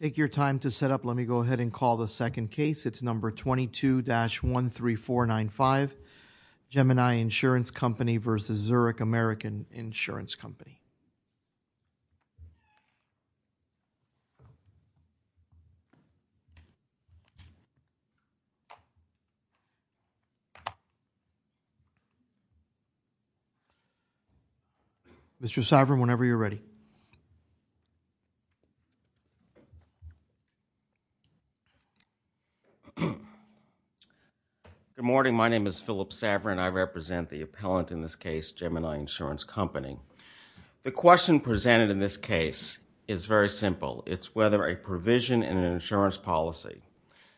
Take your time to set up. Let me go ahead and call the second case. It's number 22-13495, Gemini Insurance Company v. Zurich American Insurance Company. Mr. Saverin, whenever you're ready. Good morning. My name is Philip Saverin. I represent the appellant in this case, Gemini Insurance Company. The question presented in this case is very simple. It's whether a provision in an insurance policy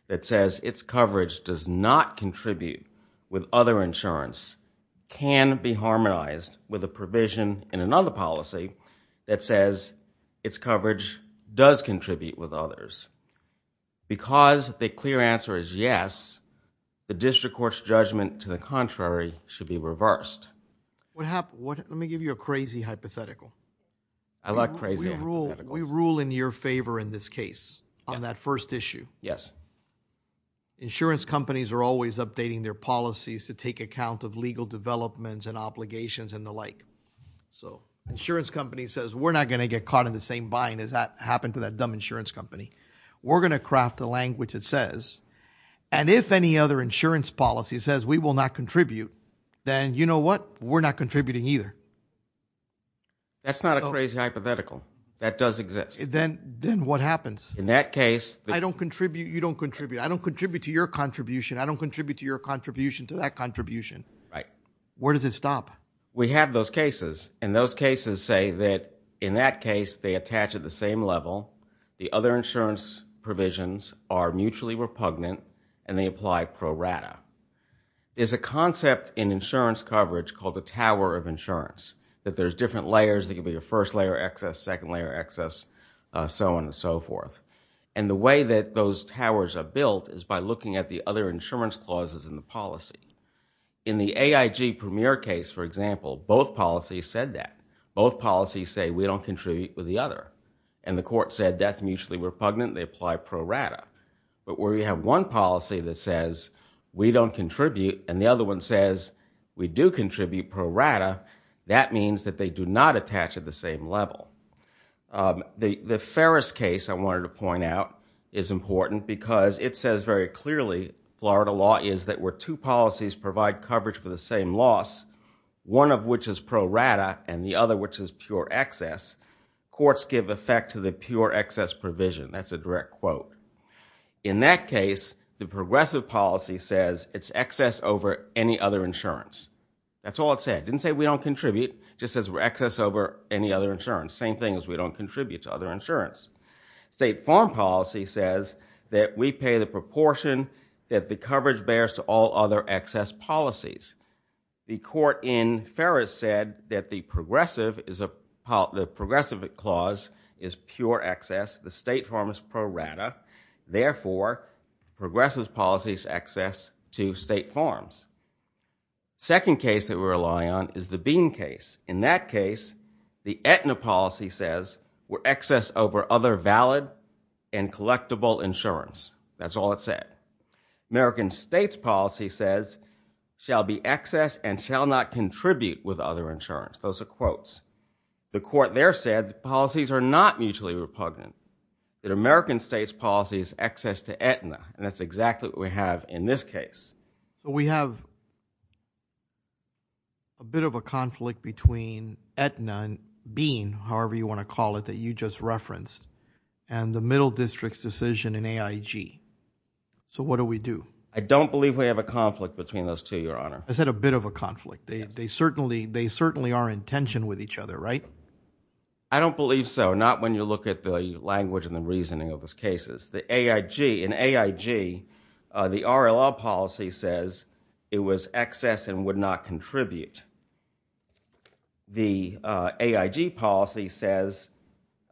that says its coverage does not contribute with other insurance can be harmonized with a provision in another policy that says its coverage does contribute with others. Because the clear answer is yes, the district court's judgment to the contrary should be reversed. Let me give you a crazy hypothetical. We rule in your favor in this case on that first issue. Insurance companies are always updating their policies to take account of legal developments and obligations and the like. Insurance company says we're not going to get caught in the same bind as that happened to that dumb insurance company. We're going to craft a language that says, and if any other insurance policy says we will not contribute, then you know what? We're not contributing either. That's not a crazy hypothetical. That does exist. Then what happens? In that case. I don't contribute. You don't contribute. I don't contribute to your contribution. I don't contribute to your contribution to that contribution. Right. Where does it stop? We have those cases and those cases say that in that case, they attach at the same level. The other insurance provisions are mutually repugnant and they apply pro rata. There's a concept in insurance coverage called the tower of insurance. That there's different layers. There could be a first layer excess, second layer excess, so on and so forth. The way that those towers are built is by looking at the other insurance clauses in the policy. In the AIG premier case, for example, both policies said that. Both policies say we don't contribute with the other and the court said that's mutually repugnant. They apply pro rata. But where you have one policy that says we don't contribute and the other one says we do contribute pro rata, that means that they do not attach at the same level. The Ferris case I wanted to point out is important because it says very clearly Florida law is that where two policies provide coverage for the same loss, one of which is pro rata and the other which is pure excess, courts give effect to the pure excess provision. That's a direct quote. In that case, the progressive policy says it's excess over any other insurance. That's all it said. Didn't say we don't contribute. Just says we're excess over any other insurance. Same thing as we don't contribute to other insurance. State farm policy says that we pay the proportion that the coverage bears to all other excess policies. The court in Ferris said that the progressive clause is pure excess. The state farm is pro rata. Therefore, progressive policy is excess to state farms. Second case that we rely on is the Bean case. In that case, the Aetna policy says we're excess over other valid and collectible insurance. That's all it said. American states policy says shall be excess and shall not contribute with other insurance. Those are quotes. The court there said policies are not mutually repugnant. That American states policy is excess to Aetna. That's exactly what we have in this case. We have a bit of a conflict between Aetna and Bean, however you want to call it, that you just referenced, and the middle district's decision in AIG. What do we do? I don't believe we have a conflict between those two, Your Honor. I said a bit of a conflict. They certainly are in tension with each other, right? I don't believe so. Not when you look at the language and the reasoning of those cases. In AIG, the RLL policy says it was excess and would not contribute. The AIG policy says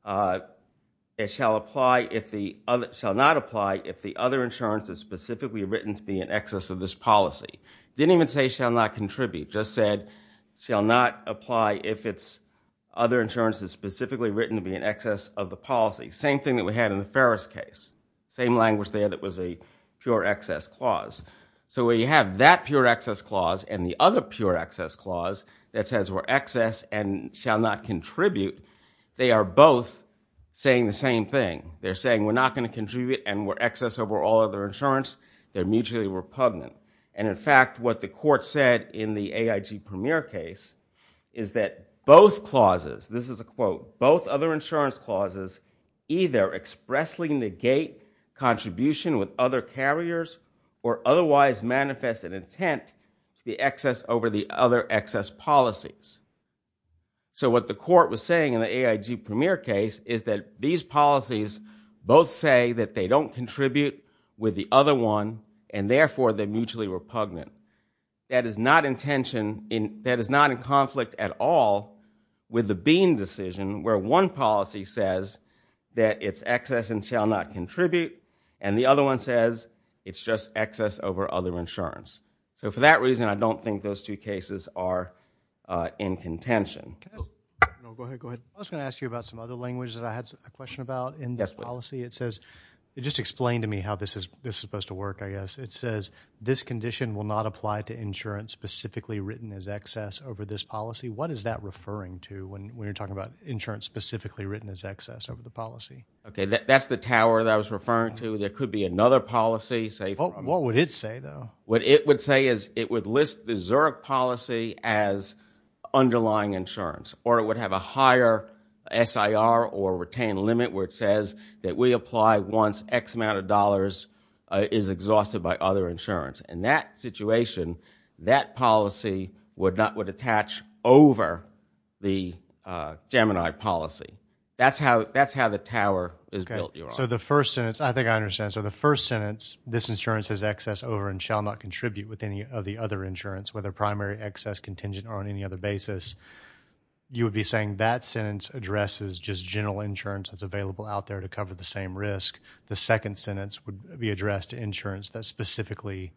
it shall not apply if the other insurance is specifically written to be in excess of this policy. It didn't even say shall not contribute. Just said shall not apply if other insurance is specifically written to be in excess of the policy. Same thing that we had in the Ferris case. Same language there that was a pure excess clause. So where you have that pure excess clause and the other pure excess clause that says we're excess and shall not contribute, they are both saying the same thing. They're saying we're not going to contribute and we're excess over all other insurance. They're mutually repugnant. And in fact, what the court said in the AIG premier case is that both clauses, this is a quote, both other insurance clauses either expressly negate contribution with other carriers or otherwise manifest an intent to be excess over the other excess policies. So what the court was saying in the AIG premier case is that these policies both say that they don't contribute with the other one and therefore they're mutually repugnant. That is not in conflict at all with the Bean decision where one policy says that it's excess and shall not contribute and the other one says it's just excess over other insurance. So for that reason, I don't think those two cases are in contention. I was going to ask you about some other languages that I had a question about in this policy. It says, just explain to me how this is supposed to work, I guess. It says, this condition will not apply to insurance specifically written as excess over this policy. What is that referring to when you're talking about insurance specifically written as excess over the policy? Okay. That's the tower that I was referring to. There could be another policy. What would it say though? What it would say is it would list the Zurich policy as underlying insurance or it would have a higher SIR or retain limit where it says that we apply once X amount of dollars is exhausted by other insurance. In that situation, that policy would attach over the Gemini policy. That's how the tower is built, Your Honor. So the first sentence, I think I understand. So the first sentence, this insurance is excess over and shall not contribute with any of the other insurance, whether primary, excess, contingent, or on any other basis, you would be saying that sentence addresses just general insurance that's available out there to cover the same risk. The second sentence would be addressed to insurance that specifically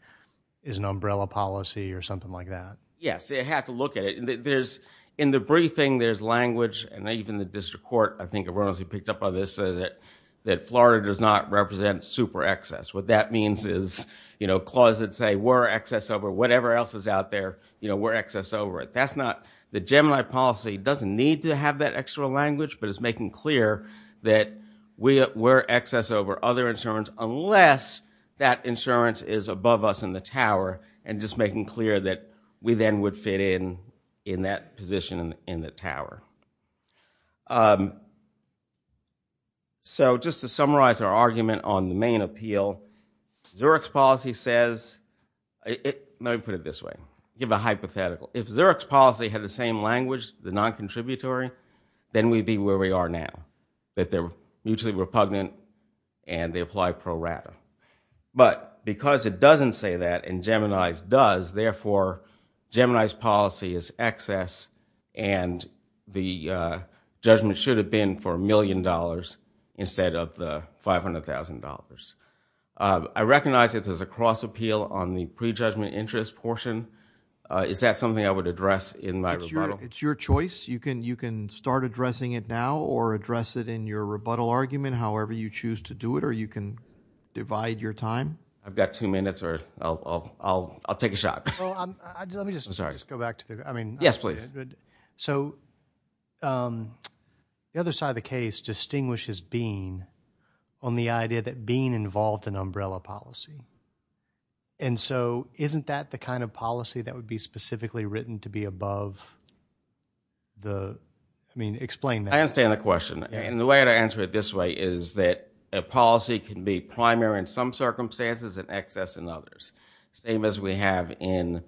is an umbrella policy or something like that. Yes. They have to look at it. There's in the briefing, there's language and even the district court, I think it was he picked up on this that Florida does not represent super excess. What that means is, you know, closet say we're excess over whatever else is out there. You know, we're excess over it. That's not the Gemini policy doesn't need to have that extra language, but it's making clear that we're excess over other insurance unless that insurance is above us in the tower and just making clear that we then would fit in in that position in the tower. So just to summarize our argument on the main appeal, Zurich's policy says, let me put it this way, give a hypothetical. If Zurich's policy had the same language, the non-contributory, then we'd be where we are now, that they're mutually repugnant and they apply pro rata. But because it doesn't say that and Gemini's does, therefore, Gemini's policy is excess and the judgment should have been for a million dollars instead of the $500,000. I recognize that there's a cross appeal on the prejudgment interest portion. Is that something I would address in my rebuttal? It's your choice. You can start addressing it now or address it in your rebuttal argument however you choose to do it or you can divide your time. I've got two minutes or I'll take a shot. Let me just go back to the, I mean. Yes, please. So the other side of the case distinguishes being on the idea that being involved in umbrella policy and so isn't that the kind of policy that would be specifically written to be above the, I mean, explain that. I understand the question and the way to answer it this way is that a policy can be primary in some circumstances and excess in others. Same as we have in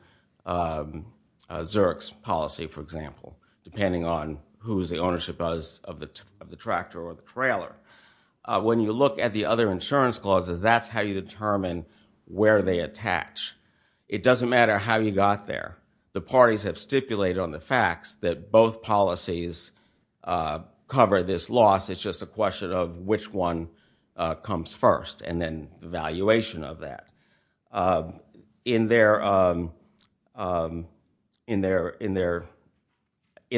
Zurich's policy, for example, depending on who's the ownership is of the tractor or the trailer. When you look at the other insurance clauses, that's how you determine where they attach. It doesn't matter how you got there. The parties have stipulated on the facts that both policies cover this loss. It's just a question of which one comes first and then the valuation of that. In the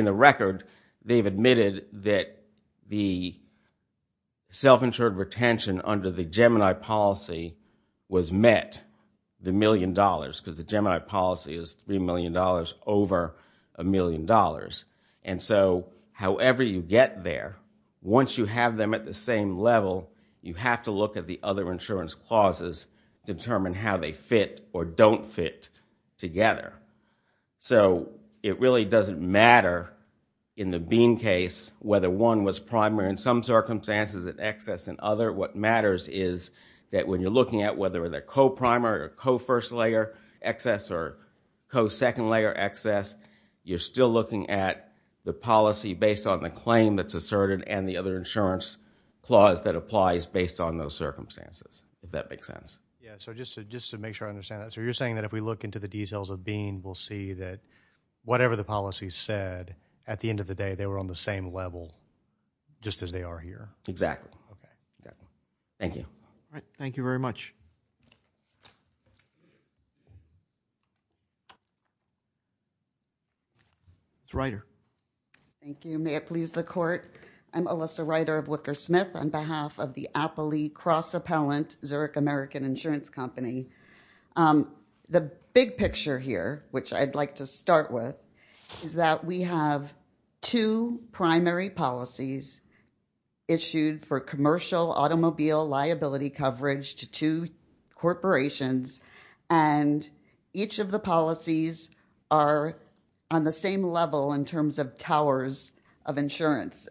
record, they've admitted that the self-insured retention under the Gemini policy was met the million dollars because the Gemini policy is $3 million over a million dollars. However, you get there, once you have them at the same level, you have to look at the other insurance clauses, determine how they fit or don't fit together. It really doesn't matter in the Bean case whether one was primary in some circumstances and excess in other. What matters is that when you're looking at whether they're co-primary or co-first layer excess or co-second layer excess, you're still looking at the policy based on the claim that's if that makes sense. Yeah, so just to make sure I understand that. So you're saying that if we look into the details of Bean, we'll see that whatever the policy said, at the end of the day, they were on the same level just as they are here? Exactly. Thank you. All right. Thank you very much. Ms. Ryder. Thank you. May it please the court. I'm Alyssa Ryder of Wicker Smith on behalf of the Appley Cross Appellant, Zurich American Insurance Company. The big picture here, which I'd like to start with, is that we have two primary policies issued for commercial automobile liability coverage to two corporations, and each of the policies are on the same level in terms of towers of insurance.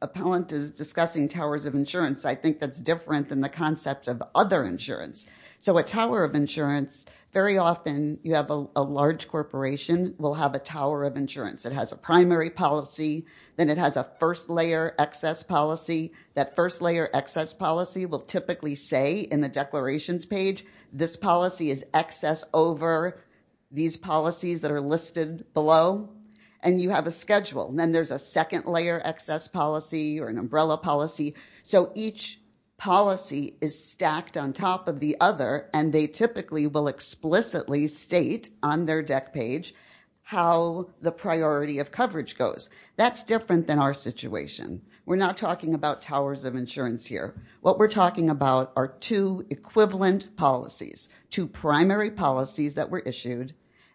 Appellant is discussing towers of insurance. I think that's different than the concept of other insurance. So a tower of insurance, very often you have a large corporation will have a tower of insurance. It has a primary policy. Then it has a first layer excess policy. That first layer excess policy will typically say in the declarations page, this policy is excess over these policies that are listed below, and you have a schedule. And then there's a second layer excess policy or an umbrella policy. So each policy is stacked on top of the other, and they typically will explicitly state on their deck page how the priority of coverage goes. That's different than our situation. We're not talking about towers of insurance here. What we're talking about are two equivalent policies, two primary policies that were issued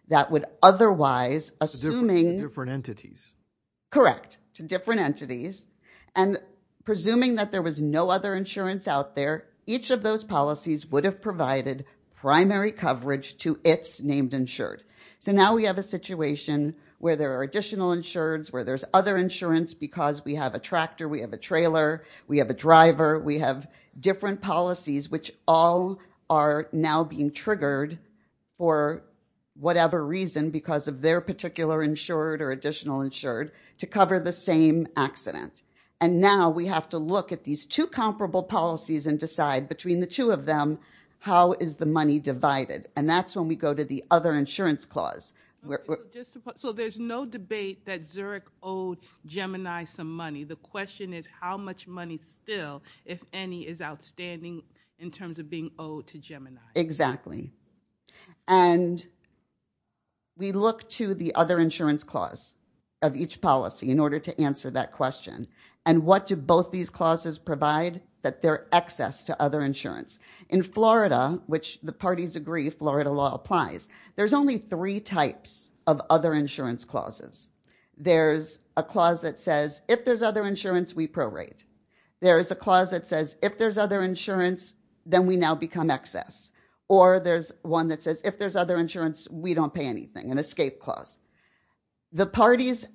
that would otherwise, assuming... To different entities. Correct. To different entities. And presuming that there was no other insurance out there, each of those policies would have provided primary coverage to its named insured. So now we have a situation where there are additional insureds, where there's other insurance because we have a tractor, we have a trailer, we have a driver, we have different policies which all are now being triggered for whatever reason because of their particular insured or additional insured to cover the same accident. And now we have to look at these two comparable policies and decide between the two of them, how is the money divided? And that's when we go to the other insurance clause. So there's no debate that Zurich owed Gemini some money. The question is how much money still, if any, is outstanding in terms of being owed to Gemini? Exactly. And we look to the other insurance clause of each policy in order to answer that question. And what do both these clauses provide? That they're access to other insurance. In Florida, which the parties agree Florida law applies, there's only three types of other insurance clauses. There's a clause that says if there's other insurance, we prorate. There is a clause that says if there's other insurance, then we now become excess. Or there's one that says if there's other insurance, we don't pay anything, an escape clause. The parties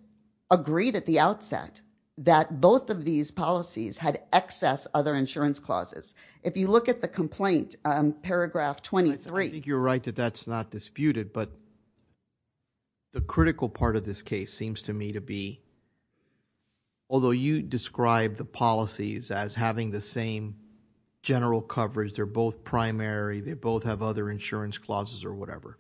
agreed at the outset that both of these policies had excess other insurance clauses. If you look at the complaint, paragraph 23. I think you're right that that's not disputed. But the critical part of this case seems to me to be, although you describe the policies as having the same general coverage, they're both primary, they both have other insurance clauses or whatever,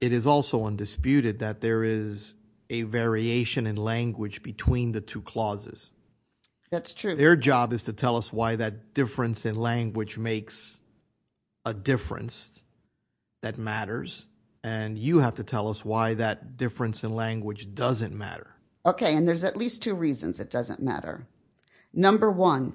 it is also undisputed that there is a variation in language between the two clauses. That's true. Their job is to tell us why that difference in language makes a difference that matters. And you have to tell us why that difference in language doesn't matter. Okay. And there's at least two reasons it doesn't matter. Number one,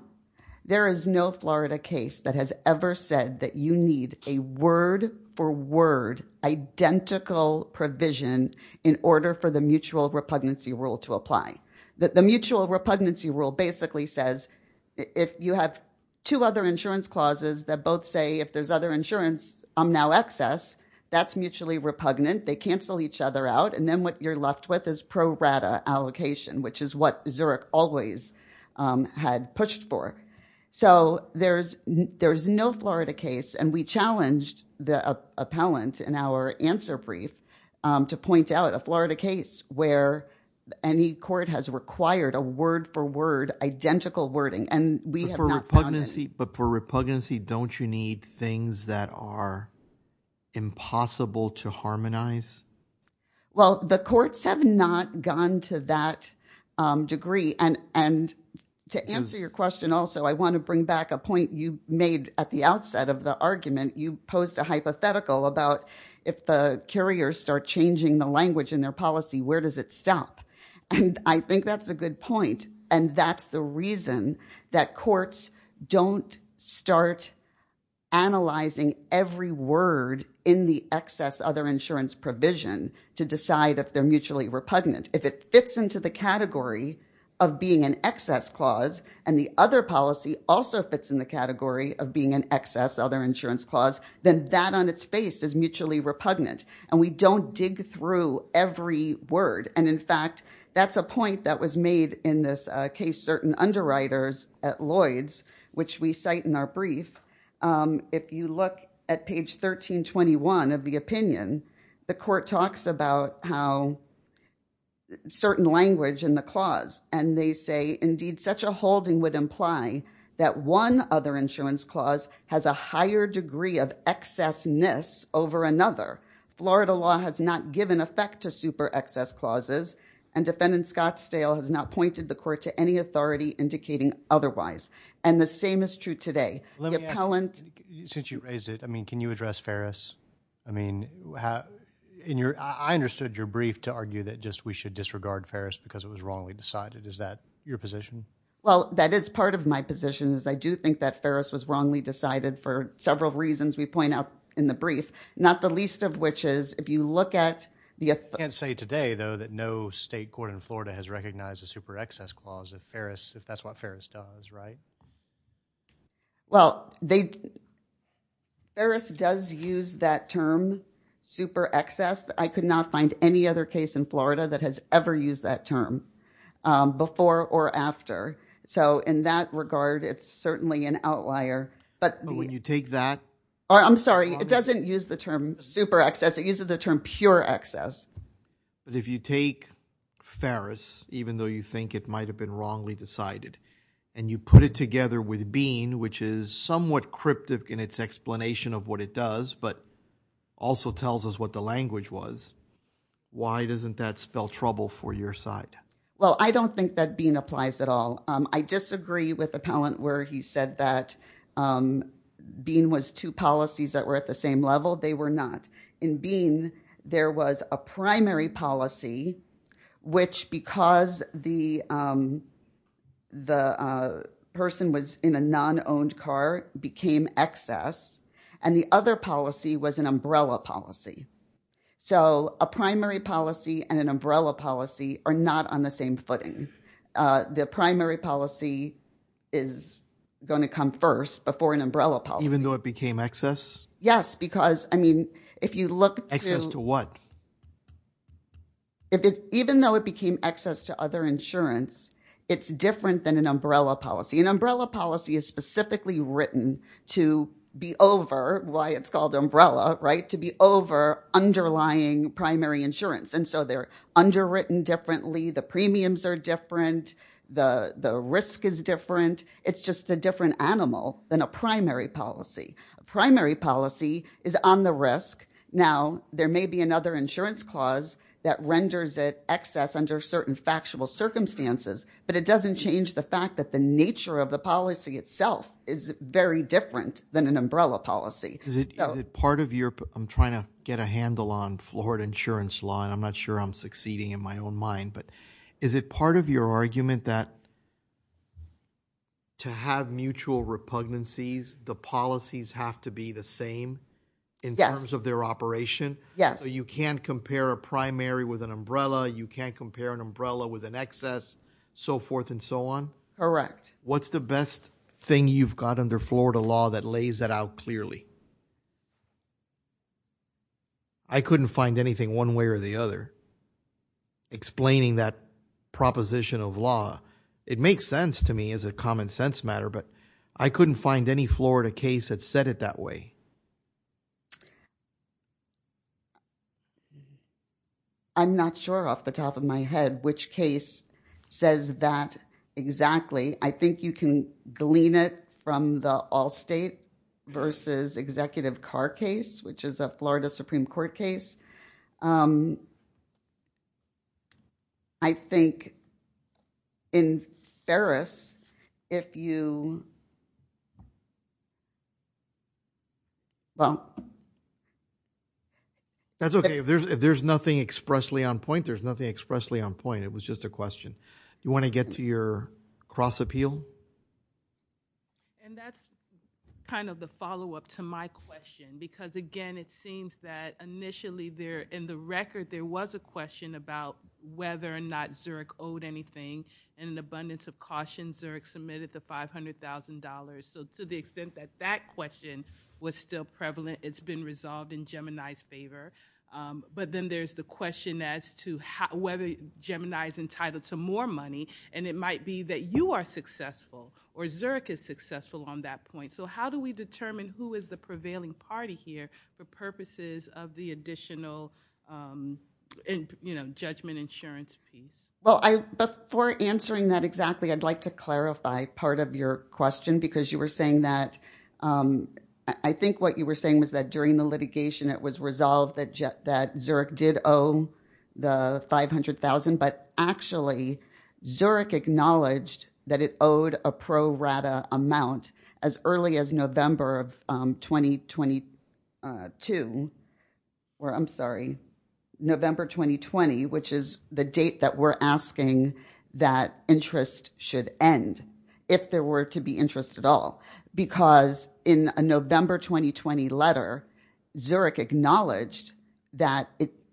there is no Florida case that has ever said that you need a word for word identical provision in order for the mutual repugnancy rule to apply. The mutual repugnancy rule basically says if you have two other insurance clauses that both say if there's other insurance, I'm now excess, that's mutually repugnant. They cancel each other out. And then what you're left with is pro rata allocation, which is what Zurich always had pushed for. So there's no Florida case. And we challenged the appellant in our answer brief to point out a Florida case where any required a word for word identical wording. But for repugnancy, don't you need things that are impossible to harmonize? Well, the courts have not gone to that degree. And to answer your question also, I want to bring back a point you made at the outset of the argument. You posed a hypothetical about if the carriers start changing the language in their policy, where does it stop? And I think that's a good point. And that's the reason that courts don't start analyzing every word in the excess other insurance provision to decide if they're mutually repugnant. If it fits into the category of being an excess clause and the other policy also fits in the category of being an excess other insurance clause, then that on its face is mutually repugnant. And we don't dig through every word. And in fact, that's a point that was made in this case certain underwriters at Lloyd's, which we cite in our brief. If you look at page 1321 of the opinion, the court talks about how certain language in the clause. And they say, indeed, such a holding would imply that one other insurance clause has a higher degree of excessness over another. Florida law has not given effect to super excess clauses. And Defendant Scottsdale has not pointed the court to any authority indicating otherwise. And the same is true today. Let me ask, since you raised it, I mean, can you address Ferris? I mean, I understood your brief to argue that just we should disregard Ferris because it was wrongly decided. Is that your position? Well, that is part of my position is I do think that Ferris was wrongly decided for several reasons we point out in the brief. Not the least of which is if you look at the. I can't say today, though, that no state court in Florida has recognized a super excess clause of Ferris if that's what Ferris does, right? Well, they. Ferris does use that term super excess. I could not find any other case in Florida that has ever used that term before or after. So in that regard, it's certainly an outlier. But when you take that. Oh, I'm sorry. It doesn't use the term super excess. It uses the term pure excess. But if you take Ferris, even though you think it might have been wrongly decided and you put it together with Bean, which is somewhat cryptic in its explanation of what it does, but also tells us what the language was. Why doesn't that spell trouble for your side? Well, I don't think that Bean applies at all. I disagree with Appellant where he said that Bean was two policies that were at the same level. They were not. In Bean, there was a primary policy, which because the person was in a non-owned car became excess, and the other policy was an umbrella policy. So a primary policy and an umbrella policy are not on the same footing. The primary policy is going to come first before an umbrella policy. Even though it became excess? Yes, because, I mean, if you look to. Excess to what? Even though it became excess to other insurance, it's different than an umbrella policy. An umbrella policy is specifically written to be over, why it's called umbrella, right? To be over underlying primary insurance. So they're underwritten differently. The premiums are different. The risk is different. It's just a different animal than a primary policy. A primary policy is on the risk. Now, there may be another insurance clause that renders it excess under certain factual circumstances, but it doesn't change the fact that the nature of the policy itself is very different than an umbrella policy. I'm trying to get a handle on Florida insurance law. I'm not sure I'm succeeding in my own mind, but is it part of your argument that to have mutual repugnancies, the policies have to be the same in terms of their operation? Yes. You can't compare a primary with an umbrella. You can't compare an umbrella with an excess, so forth and so on. Correct. What's the best thing you've got under Florida law that lays that out clearly? I couldn't find anything one way or the other explaining that proposition of law. It makes sense to me as a common sense matter, but I couldn't find any Florida case that said it that way. I'm not sure off the top of my head which case says that exactly. I think you can glean it from the all state versus executive car case, which is a Florida Supreme Court case. I think in Ferris, if you, well. That's okay. If there's nothing expressly on point, there's nothing expressly on point. It was just a question. You want to get to your cross appeal? That's kind of the follow up to my question, because again, it seems that initially there in the record, there was a question about whether or not Zurich owed anything. In an abundance of caution, Zurich submitted the $500,000, so to the extent that that question was still prevalent, it's been resolved in Gemini's favor. Then there's the question as to whether Gemini is entitled to more money, and it might be that you are successful or Zurich is successful on that point. How do we determine who is the prevailing party here for purposes of the additional judgment insurance piece? Well, before answering that exactly, I'd like to clarify part of your question, because you were saying that, I think what you were saying was that during the litigation, it was resolved that Zurich did owe the $500,000, but actually, Zurich acknowledged that it owed a pro rata amount as early as November of 2022, or I'm sorry, November 2020, which is the date that we're asking that interest should end, if there were to be interest at Because in a November 2020 letter, Zurich acknowledged that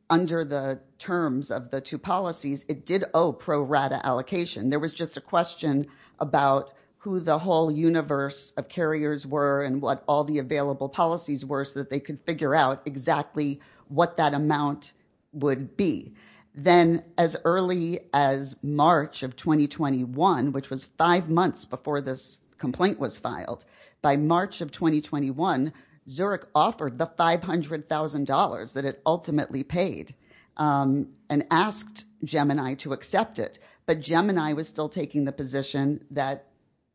under the terms of the two policies, it did owe pro rata allocation. There was just a question about who the whole universe of carriers were and what all the available policies were so that they could figure out exactly what that amount would Then as early as March of 2021, which was five months before this complaint was filed, by March of 2021, Zurich offered the $500,000 that it ultimately paid and asked Gemini to accept it. But Gemini was still taking the position that,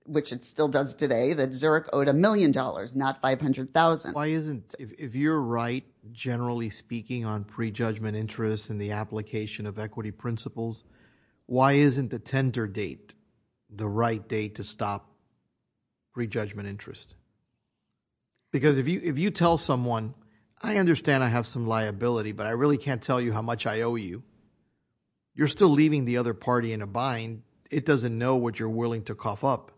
which it still does today, that Zurich owed a million dollars, not $500,000. If you're right, generally speaking, on prejudgment interest and the application of equity principles, why isn't the tender date the right date to stop prejudgment interest? Because if you tell someone, I understand I have some liability, but I really can't tell you how much I owe you, you're still leaving the other party in a bind. It doesn't know what you're willing to cough up.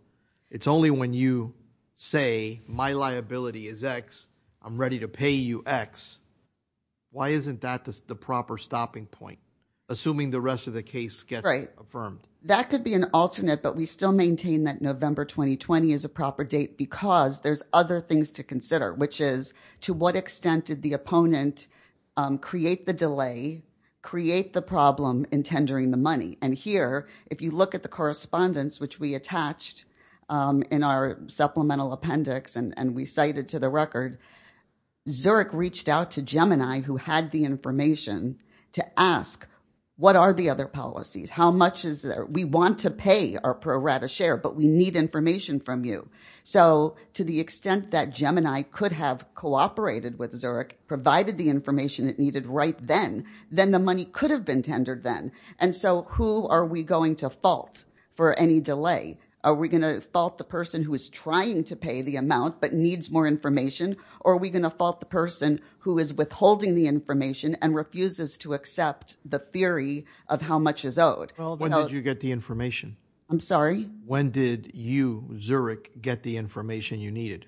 It's only when you say my liability is X, I'm ready to pay you X. Why isn't that the proper stopping point, assuming the rest of the case gets affirmed? That could be an alternate, but we still maintain that November 2020 is a proper date because there's other things to consider, which is to what extent did the opponent create the delay, create the problem in tendering the money? Here, if you look at the correspondence, which we attached in our supplemental appendix and we cited to the record, Zurich reached out to Gemini, who had the information, to ask, what are the other policies? How much is there? We want to pay our pro rata share, but we need information from you. To the extent that Gemini could have cooperated with Zurich, provided the information it needed right then, then the money could have been tendered then. Who are we going to fault for any delay? Are we going to fault the person who is trying to pay the amount but needs more information, or are we going to fault the person who is withholding the information and refuses to accept the theory of how much is owed? When did you get the information? I'm sorry? When did you, Zurich, get the information you needed?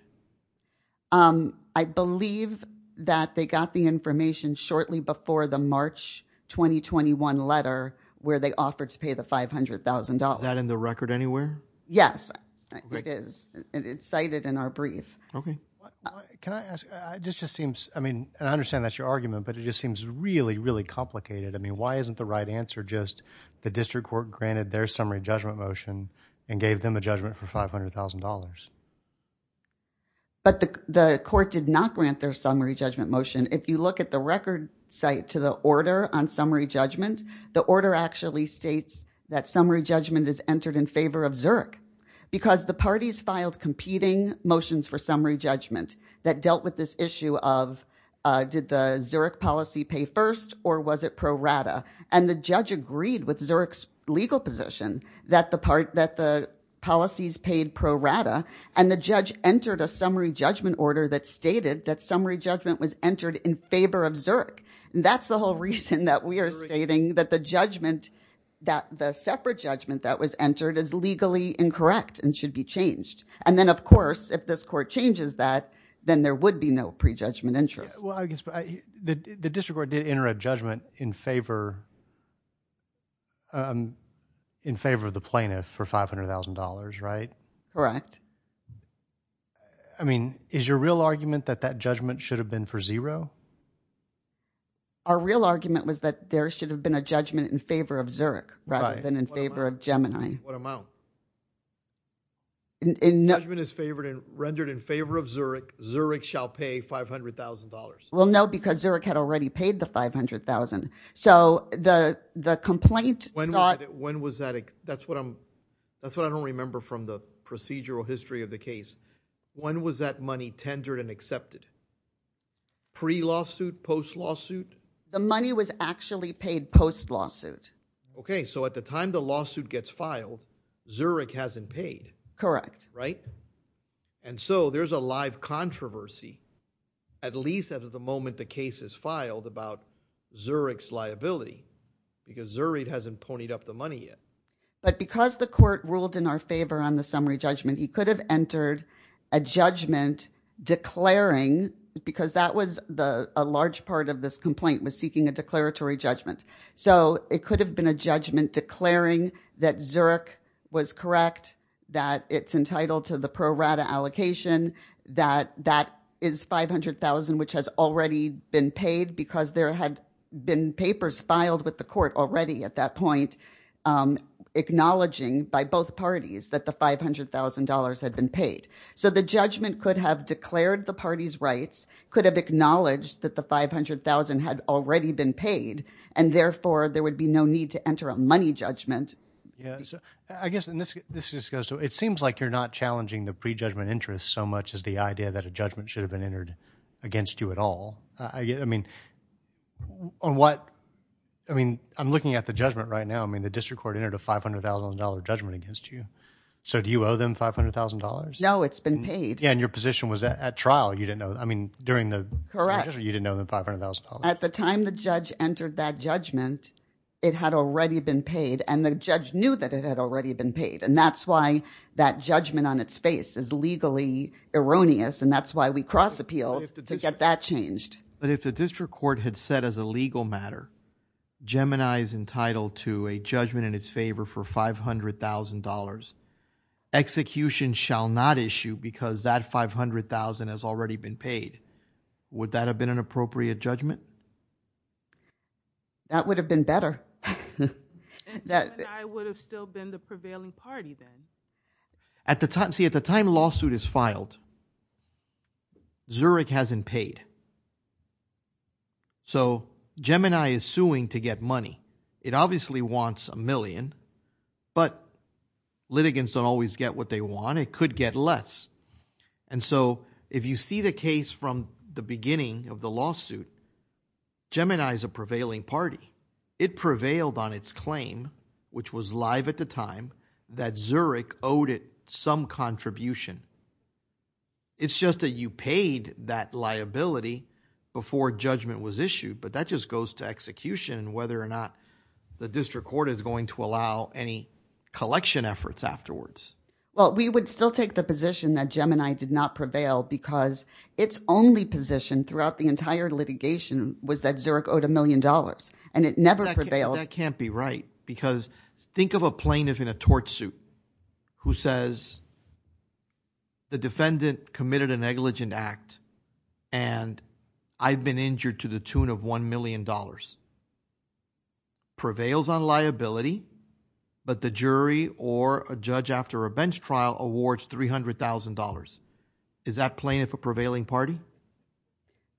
Um, I believe that they got the information shortly before the March 2021 letter, where they offered to pay the $500,000. Is that in the record anywhere? Yes, it is. It's cited in our brief. Okay. Can I ask, this just seems, I mean, I understand that's your argument, but it just seems really, really complicated. I mean, why isn't the right answer just the district court granted their summary judgment motion and gave them a judgment for $500,000? But the court did not grant their summary judgment motion. If you look at the record site to the order on summary judgment, the order actually states that summary judgment is entered in favor of Zurich, because the parties filed competing motions for summary judgment that dealt with this issue of, did the Zurich policy pay first, or was it pro rata? And the judge agreed with Zurich's legal position that the policies paid pro rata, and the judge entered a summary judgment order that stated that summary judgment was entered in favor of Zurich. And that's the whole reason that we are stating that the judgment, that the separate judgment that was entered is legally incorrect and should be changed. And then, of course, if this court changes that, then there would be no pre-judgment interest. The district court did enter a judgment in favor of the plaintiff for $500,000, right? Correct. I mean, is your real argument that that judgment should have been for zero? Our real argument was that there should have been a judgment in favor of Zurich, rather than in favor of Gemini. What amount? Judgment is favored and rendered in favor of Zurich. Zurich shall pay $500,000. Well, no, because Zurich had already paid the $500,000. So the complaint sought... That's what I don't remember from the procedural history of the case. When was that money tendered and accepted? Pre-lawsuit? Post-lawsuit? The money was actually paid post-lawsuit. Okay, so at the time the lawsuit gets filed, Zurich hasn't paid. Correct. Right? And so there's a live controversy, at least at the moment the case is filed, about Zurich's money. But because the court ruled in our favor on the summary judgment, he could have entered a judgment declaring, because that was a large part of this complaint, was seeking a declaratory judgment. So it could have been a judgment declaring that Zurich was correct, that it's entitled to the pro-rata allocation, that that is $500,000, which has already been paid because there had been papers filed with the court already at that point acknowledging by both parties that the $500,000 had been paid. So the judgment could have declared the party's rights, could have acknowledged that the $500,000 had already been paid, and therefore there would be no need to enter a money judgment. I guess this just goes to, it seems like you're not challenging the pre-judgment interest so much as the idea that a judgment should have been entered against you at all. I mean, on what, I mean, I'm looking at the judgment right now. I mean, the district court entered a $500,000 judgment against you. So do you owe them $500,000? No, it's been paid. Yeah, and your position was at trial, you didn't know, I mean, during the Correct. You didn't know the $500,000. At the time the judge entered that judgment, it had already been paid, and the judge knew that it had already been paid. And that's why that judgment on its face is legally erroneous, and that's why we cross appealed to get that changed. But if the district court had said as a legal matter, Gemini is entitled to a judgment in its favor for $500,000, execution shall not issue because that $500,000 has already been paid. Would that have been an appropriate judgment? That would have been better. And Gemini would have still been the prevailing party then. At the time, see, at the time lawsuit is filed. Zurich hasn't paid. So Gemini is suing to get money. It obviously wants a million, but litigants don't always get what they want. It could get less. And so if you see the case from the beginning of the lawsuit, Gemini is a prevailing party. It prevailed on its claim, which was live at the time that Zurich owed it some contribution. It's just that you paid that liability before judgment was issued. But that just goes to execution and whether or not the district court is going to allow any collection efforts afterwards. Well, we would still take the position that Gemini did not prevail because its only position throughout the entire litigation was that Zurich owed a million dollars. And it never prevailed. That can't be right. Because think of a plaintiff in a torch suit who says the defendant committed a negligent act and I've been injured to the tune of $1 million. Prevails on liability, but the jury or a judge after a bench trial awards $300,000. Is that plaintiff a prevailing party?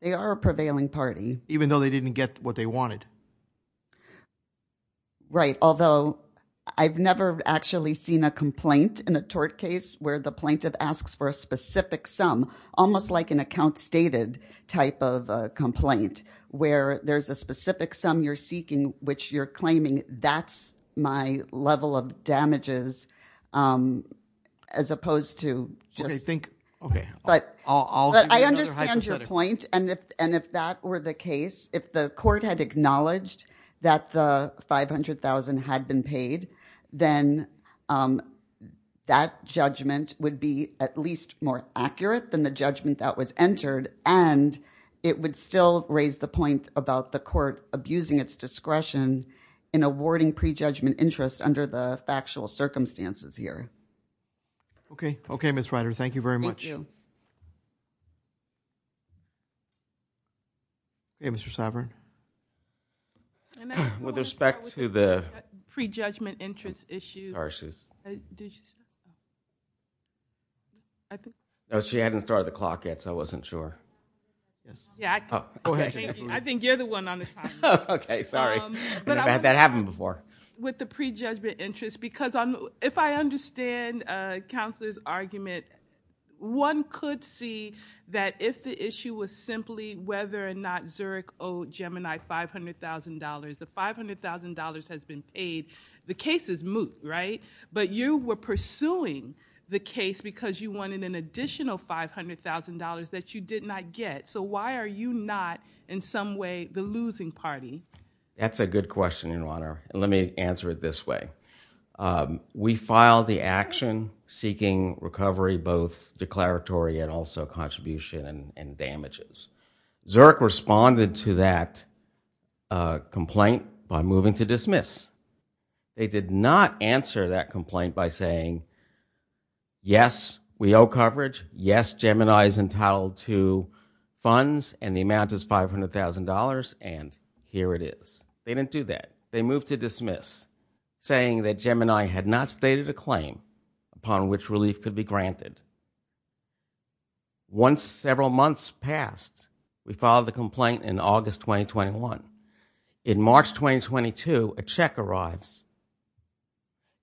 They are a prevailing party. Even though they didn't get what they wanted. Right. Although I've never actually seen a complaint in a tort case where the plaintiff asks for a specific sum. Almost like an account stated type of complaint where there's a specific sum you're seeking, which you're claiming that's my level of damages as opposed to just. Okay, think. Okay. But I understand your point. And if that were the case, if the court had acknowledged that the $500,000 had been paid, then that judgment would be at least more accurate than the judgment that was entered. And it would still raise the point about the court abusing its discretion in awarding pre-judgment interest under the factual circumstances here. Okay. Okay, Ms. Ryder. Thank you very much. Okay, Mr. Sobern. With respect to the pre-judgment interest issue. She hadn't started the clock yet, so I wasn't sure. I think you're the one on the time. Okay, sorry. That happened before. With the pre-judgment interest. If I understand Counselor's argument, one could see that if the issue was simply whether or not Zurich owed Gemini $500,000, the $500,000 has been paid. The case is moot, right? But you were pursuing the case because you wanted an additional $500,000 that you did not get. So why are you not, in some way, the losing party? That's a good question, Your Honor. Let me answer it this way. We filed the action seeking recovery, both declaratory and also contribution and damages. Zurich responded to that complaint by moving to dismiss. They did not answer that complaint by saying, yes, we owe coverage. Yes, Gemini is entitled to funds and the amount is $500,000 and here it is. They didn't do that. They moved to dismiss saying that Gemini had not stated a claim upon which relief could be granted. Once several months passed, we filed the complaint in August 2021. In March 2022, a check arrives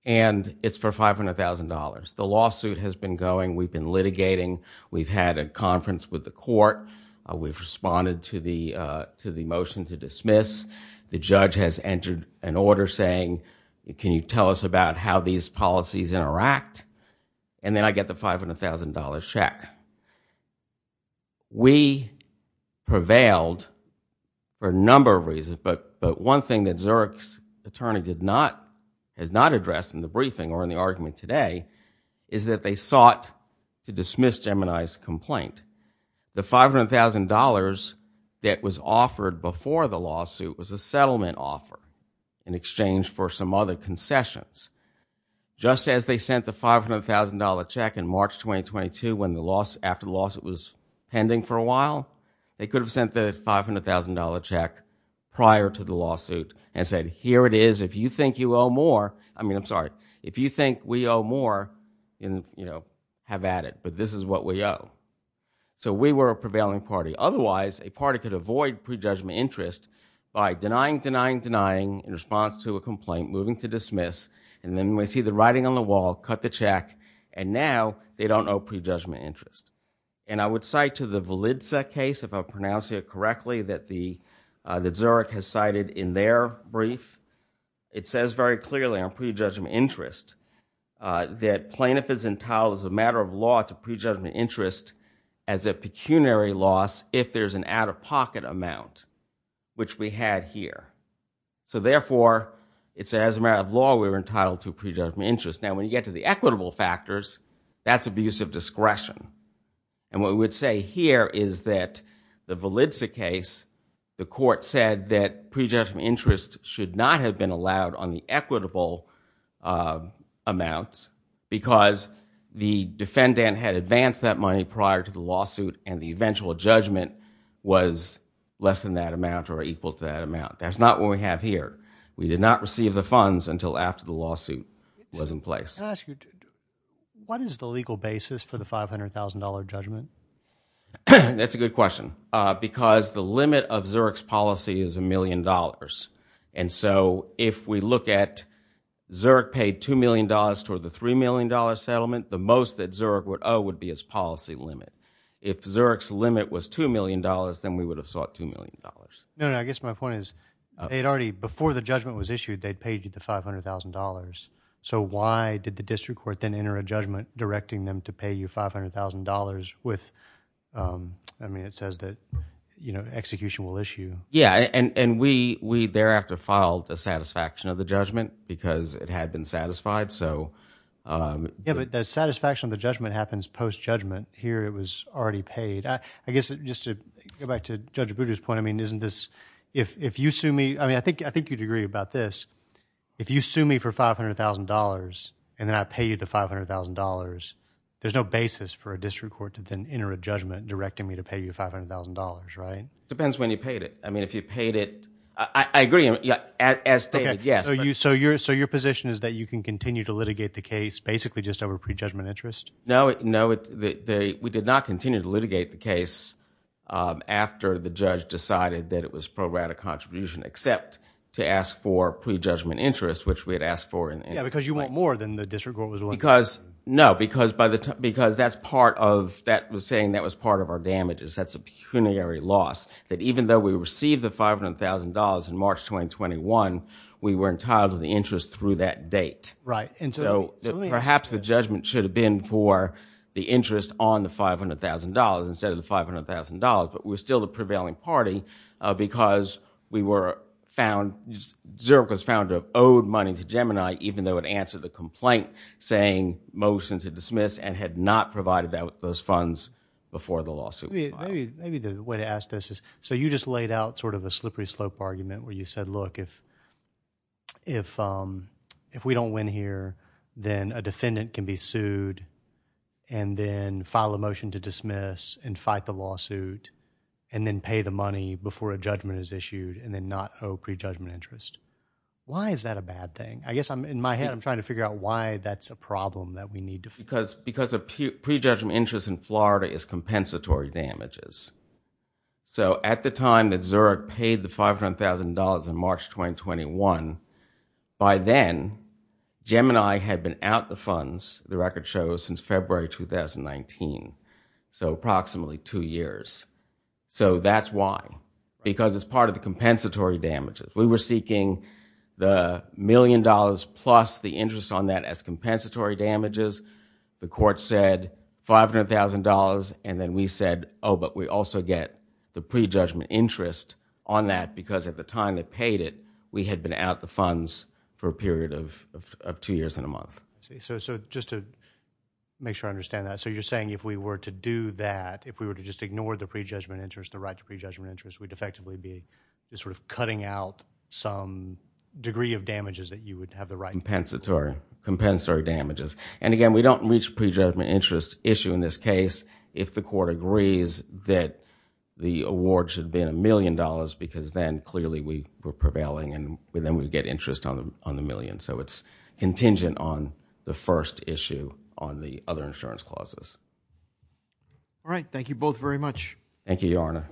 and it's for $500,000. The lawsuit has been going. We've been litigating. We've had a conference with the court. We've responded to the motion to dismiss. The judge has entered an order saying, can you tell us about how these policies interact? And then I get the $500,000 check. We prevailed for a number of reasons, but one thing that Zurich's attorney has not addressed in the briefing or in the argument today is that they sought to dismiss Gemini's complaint. The $500,000 that was offered before the lawsuit was a settlement offer in exchange for some other concessions. Just as they sent the $500,000 check in March 2022 when the loss after the lawsuit was pending for a while, they could have sent the $500,000 check prior to the lawsuit and said, here it is. If you think you owe more, I mean, I'm sorry. If you think we owe more, you know, have at it, but this is what we owe. So we were a prevailing party. Otherwise, a party could avoid prejudgment interest by denying, denying, denying in response to a complaint, moving to dismiss, and then we see the writing on the wall, cut the check, and now they don't owe prejudgment interest. And I would cite to the Validza case, if I pronounce it correctly, that Zurich has cited in their brief. It says very clearly on prejudgment interest that plaintiff is entitled as a matter of pecuniary loss if there's an out-of-pocket amount, which we had here. So therefore, it says as a matter of law, we were entitled to prejudgment interest. Now, when you get to the equitable factors, that's abuse of discretion. And what we would say here is that the Validza case, the court said that prejudgment interest should not have been allowed on the equitable amounts because the defendant had advanced that money prior to the lawsuit and the eventual judgment was less than that amount or equal to that amount. That's not what we have here. We did not receive the funds until after the lawsuit was in place. Can I ask you, what is the legal basis for the $500,000 judgment? That's a good question because the limit of Zurich's policy is $1 million. And so if we look at Zurich paid $2 million toward the $3 million settlement, the most that Zurich would owe would be its policy limit. If Zurich's limit was $2 million, then we would have sought $2 million. I guess my point is, before the judgment was issued, they paid you the $500,000. So why did the district court then enter a judgment directing them to pay you $500,000 with, I mean, it says that execution will issue. Yeah, and we thereafter filed the satisfaction of the judgment because it had been satisfied. Yeah, but the satisfaction of the judgment happens post-judgment. Here it was already paid. I guess just to go back to Judge Abudu's point, I mean, isn't this, if you sue me, I mean, I think you'd agree about this. If you sue me for $500,000 and then I pay you the $500,000, there's no basis for a district court to then enter a judgment directing me to pay you $500,000, right? It depends when you paid it. I mean, if you paid it, I agree, as stated, yes. So your position is that you can continue to litigate the case basically just over pre-judgment interest? No, we did not continue to litigate the case after the judge decided that it was pro-rata contribution except to ask for pre-judgment interest, which we had asked for. Yeah, because you want more than the district court was willing to pay. No, because that's part of, that was saying that was part of our damages. That's a pecuniary loss, that even though we received the $500,000 in March 2021, we were entitled to the interest through that date. Right. And so perhaps the judgment should have been for the interest on the $500,000 instead of the $500,000, but we're still the prevailing party because we were found, Zurich was found to have owed money to Gemini, even though it answered the complaint saying motion to dismiss and had not provided that with those funds before the lawsuit. Maybe the way to ask this is, so you just laid out sort of a slippery slope argument where you said, look, if we don't win here, then a defendant can be sued and then file a motion to dismiss and fight the lawsuit and then pay the money before a judgment is issued and then not owe pre-judgment interest. Why is that a bad thing? I guess in my head, I'm trying to figure out why that's a problem that we need to... Because of pre-judgment interest in Florida is compensatory damages. So at the time that Zurich paid the $500,000 in March 2021, by then, Gemini had been out the funds, the record shows, since February 2019, so approximately two years. So that's why, because it's part of the compensatory damages. We were seeking the million dollars plus the interest on that as compensatory damages. The court said $500,000 and then we said, oh, but we also get the pre-judgment interest on that because at the time they paid it, we had been out the funds for a period of two years and a month. So just to make sure I understand that, so you're saying if we were to do that, if we were to just ignore the pre-judgment interest, the right to pre-judgment interest, we'd effectively be sort of cutting out some degree of damages that you would have the right... We don't reach pre-judgment interest issue in this case if the court agrees that the award should have been a million dollars because then, clearly, we were prevailing and then we'd get interest on the million. So it's contingent on the first issue on the other insurance clauses. All right. Thank you, Your Honor.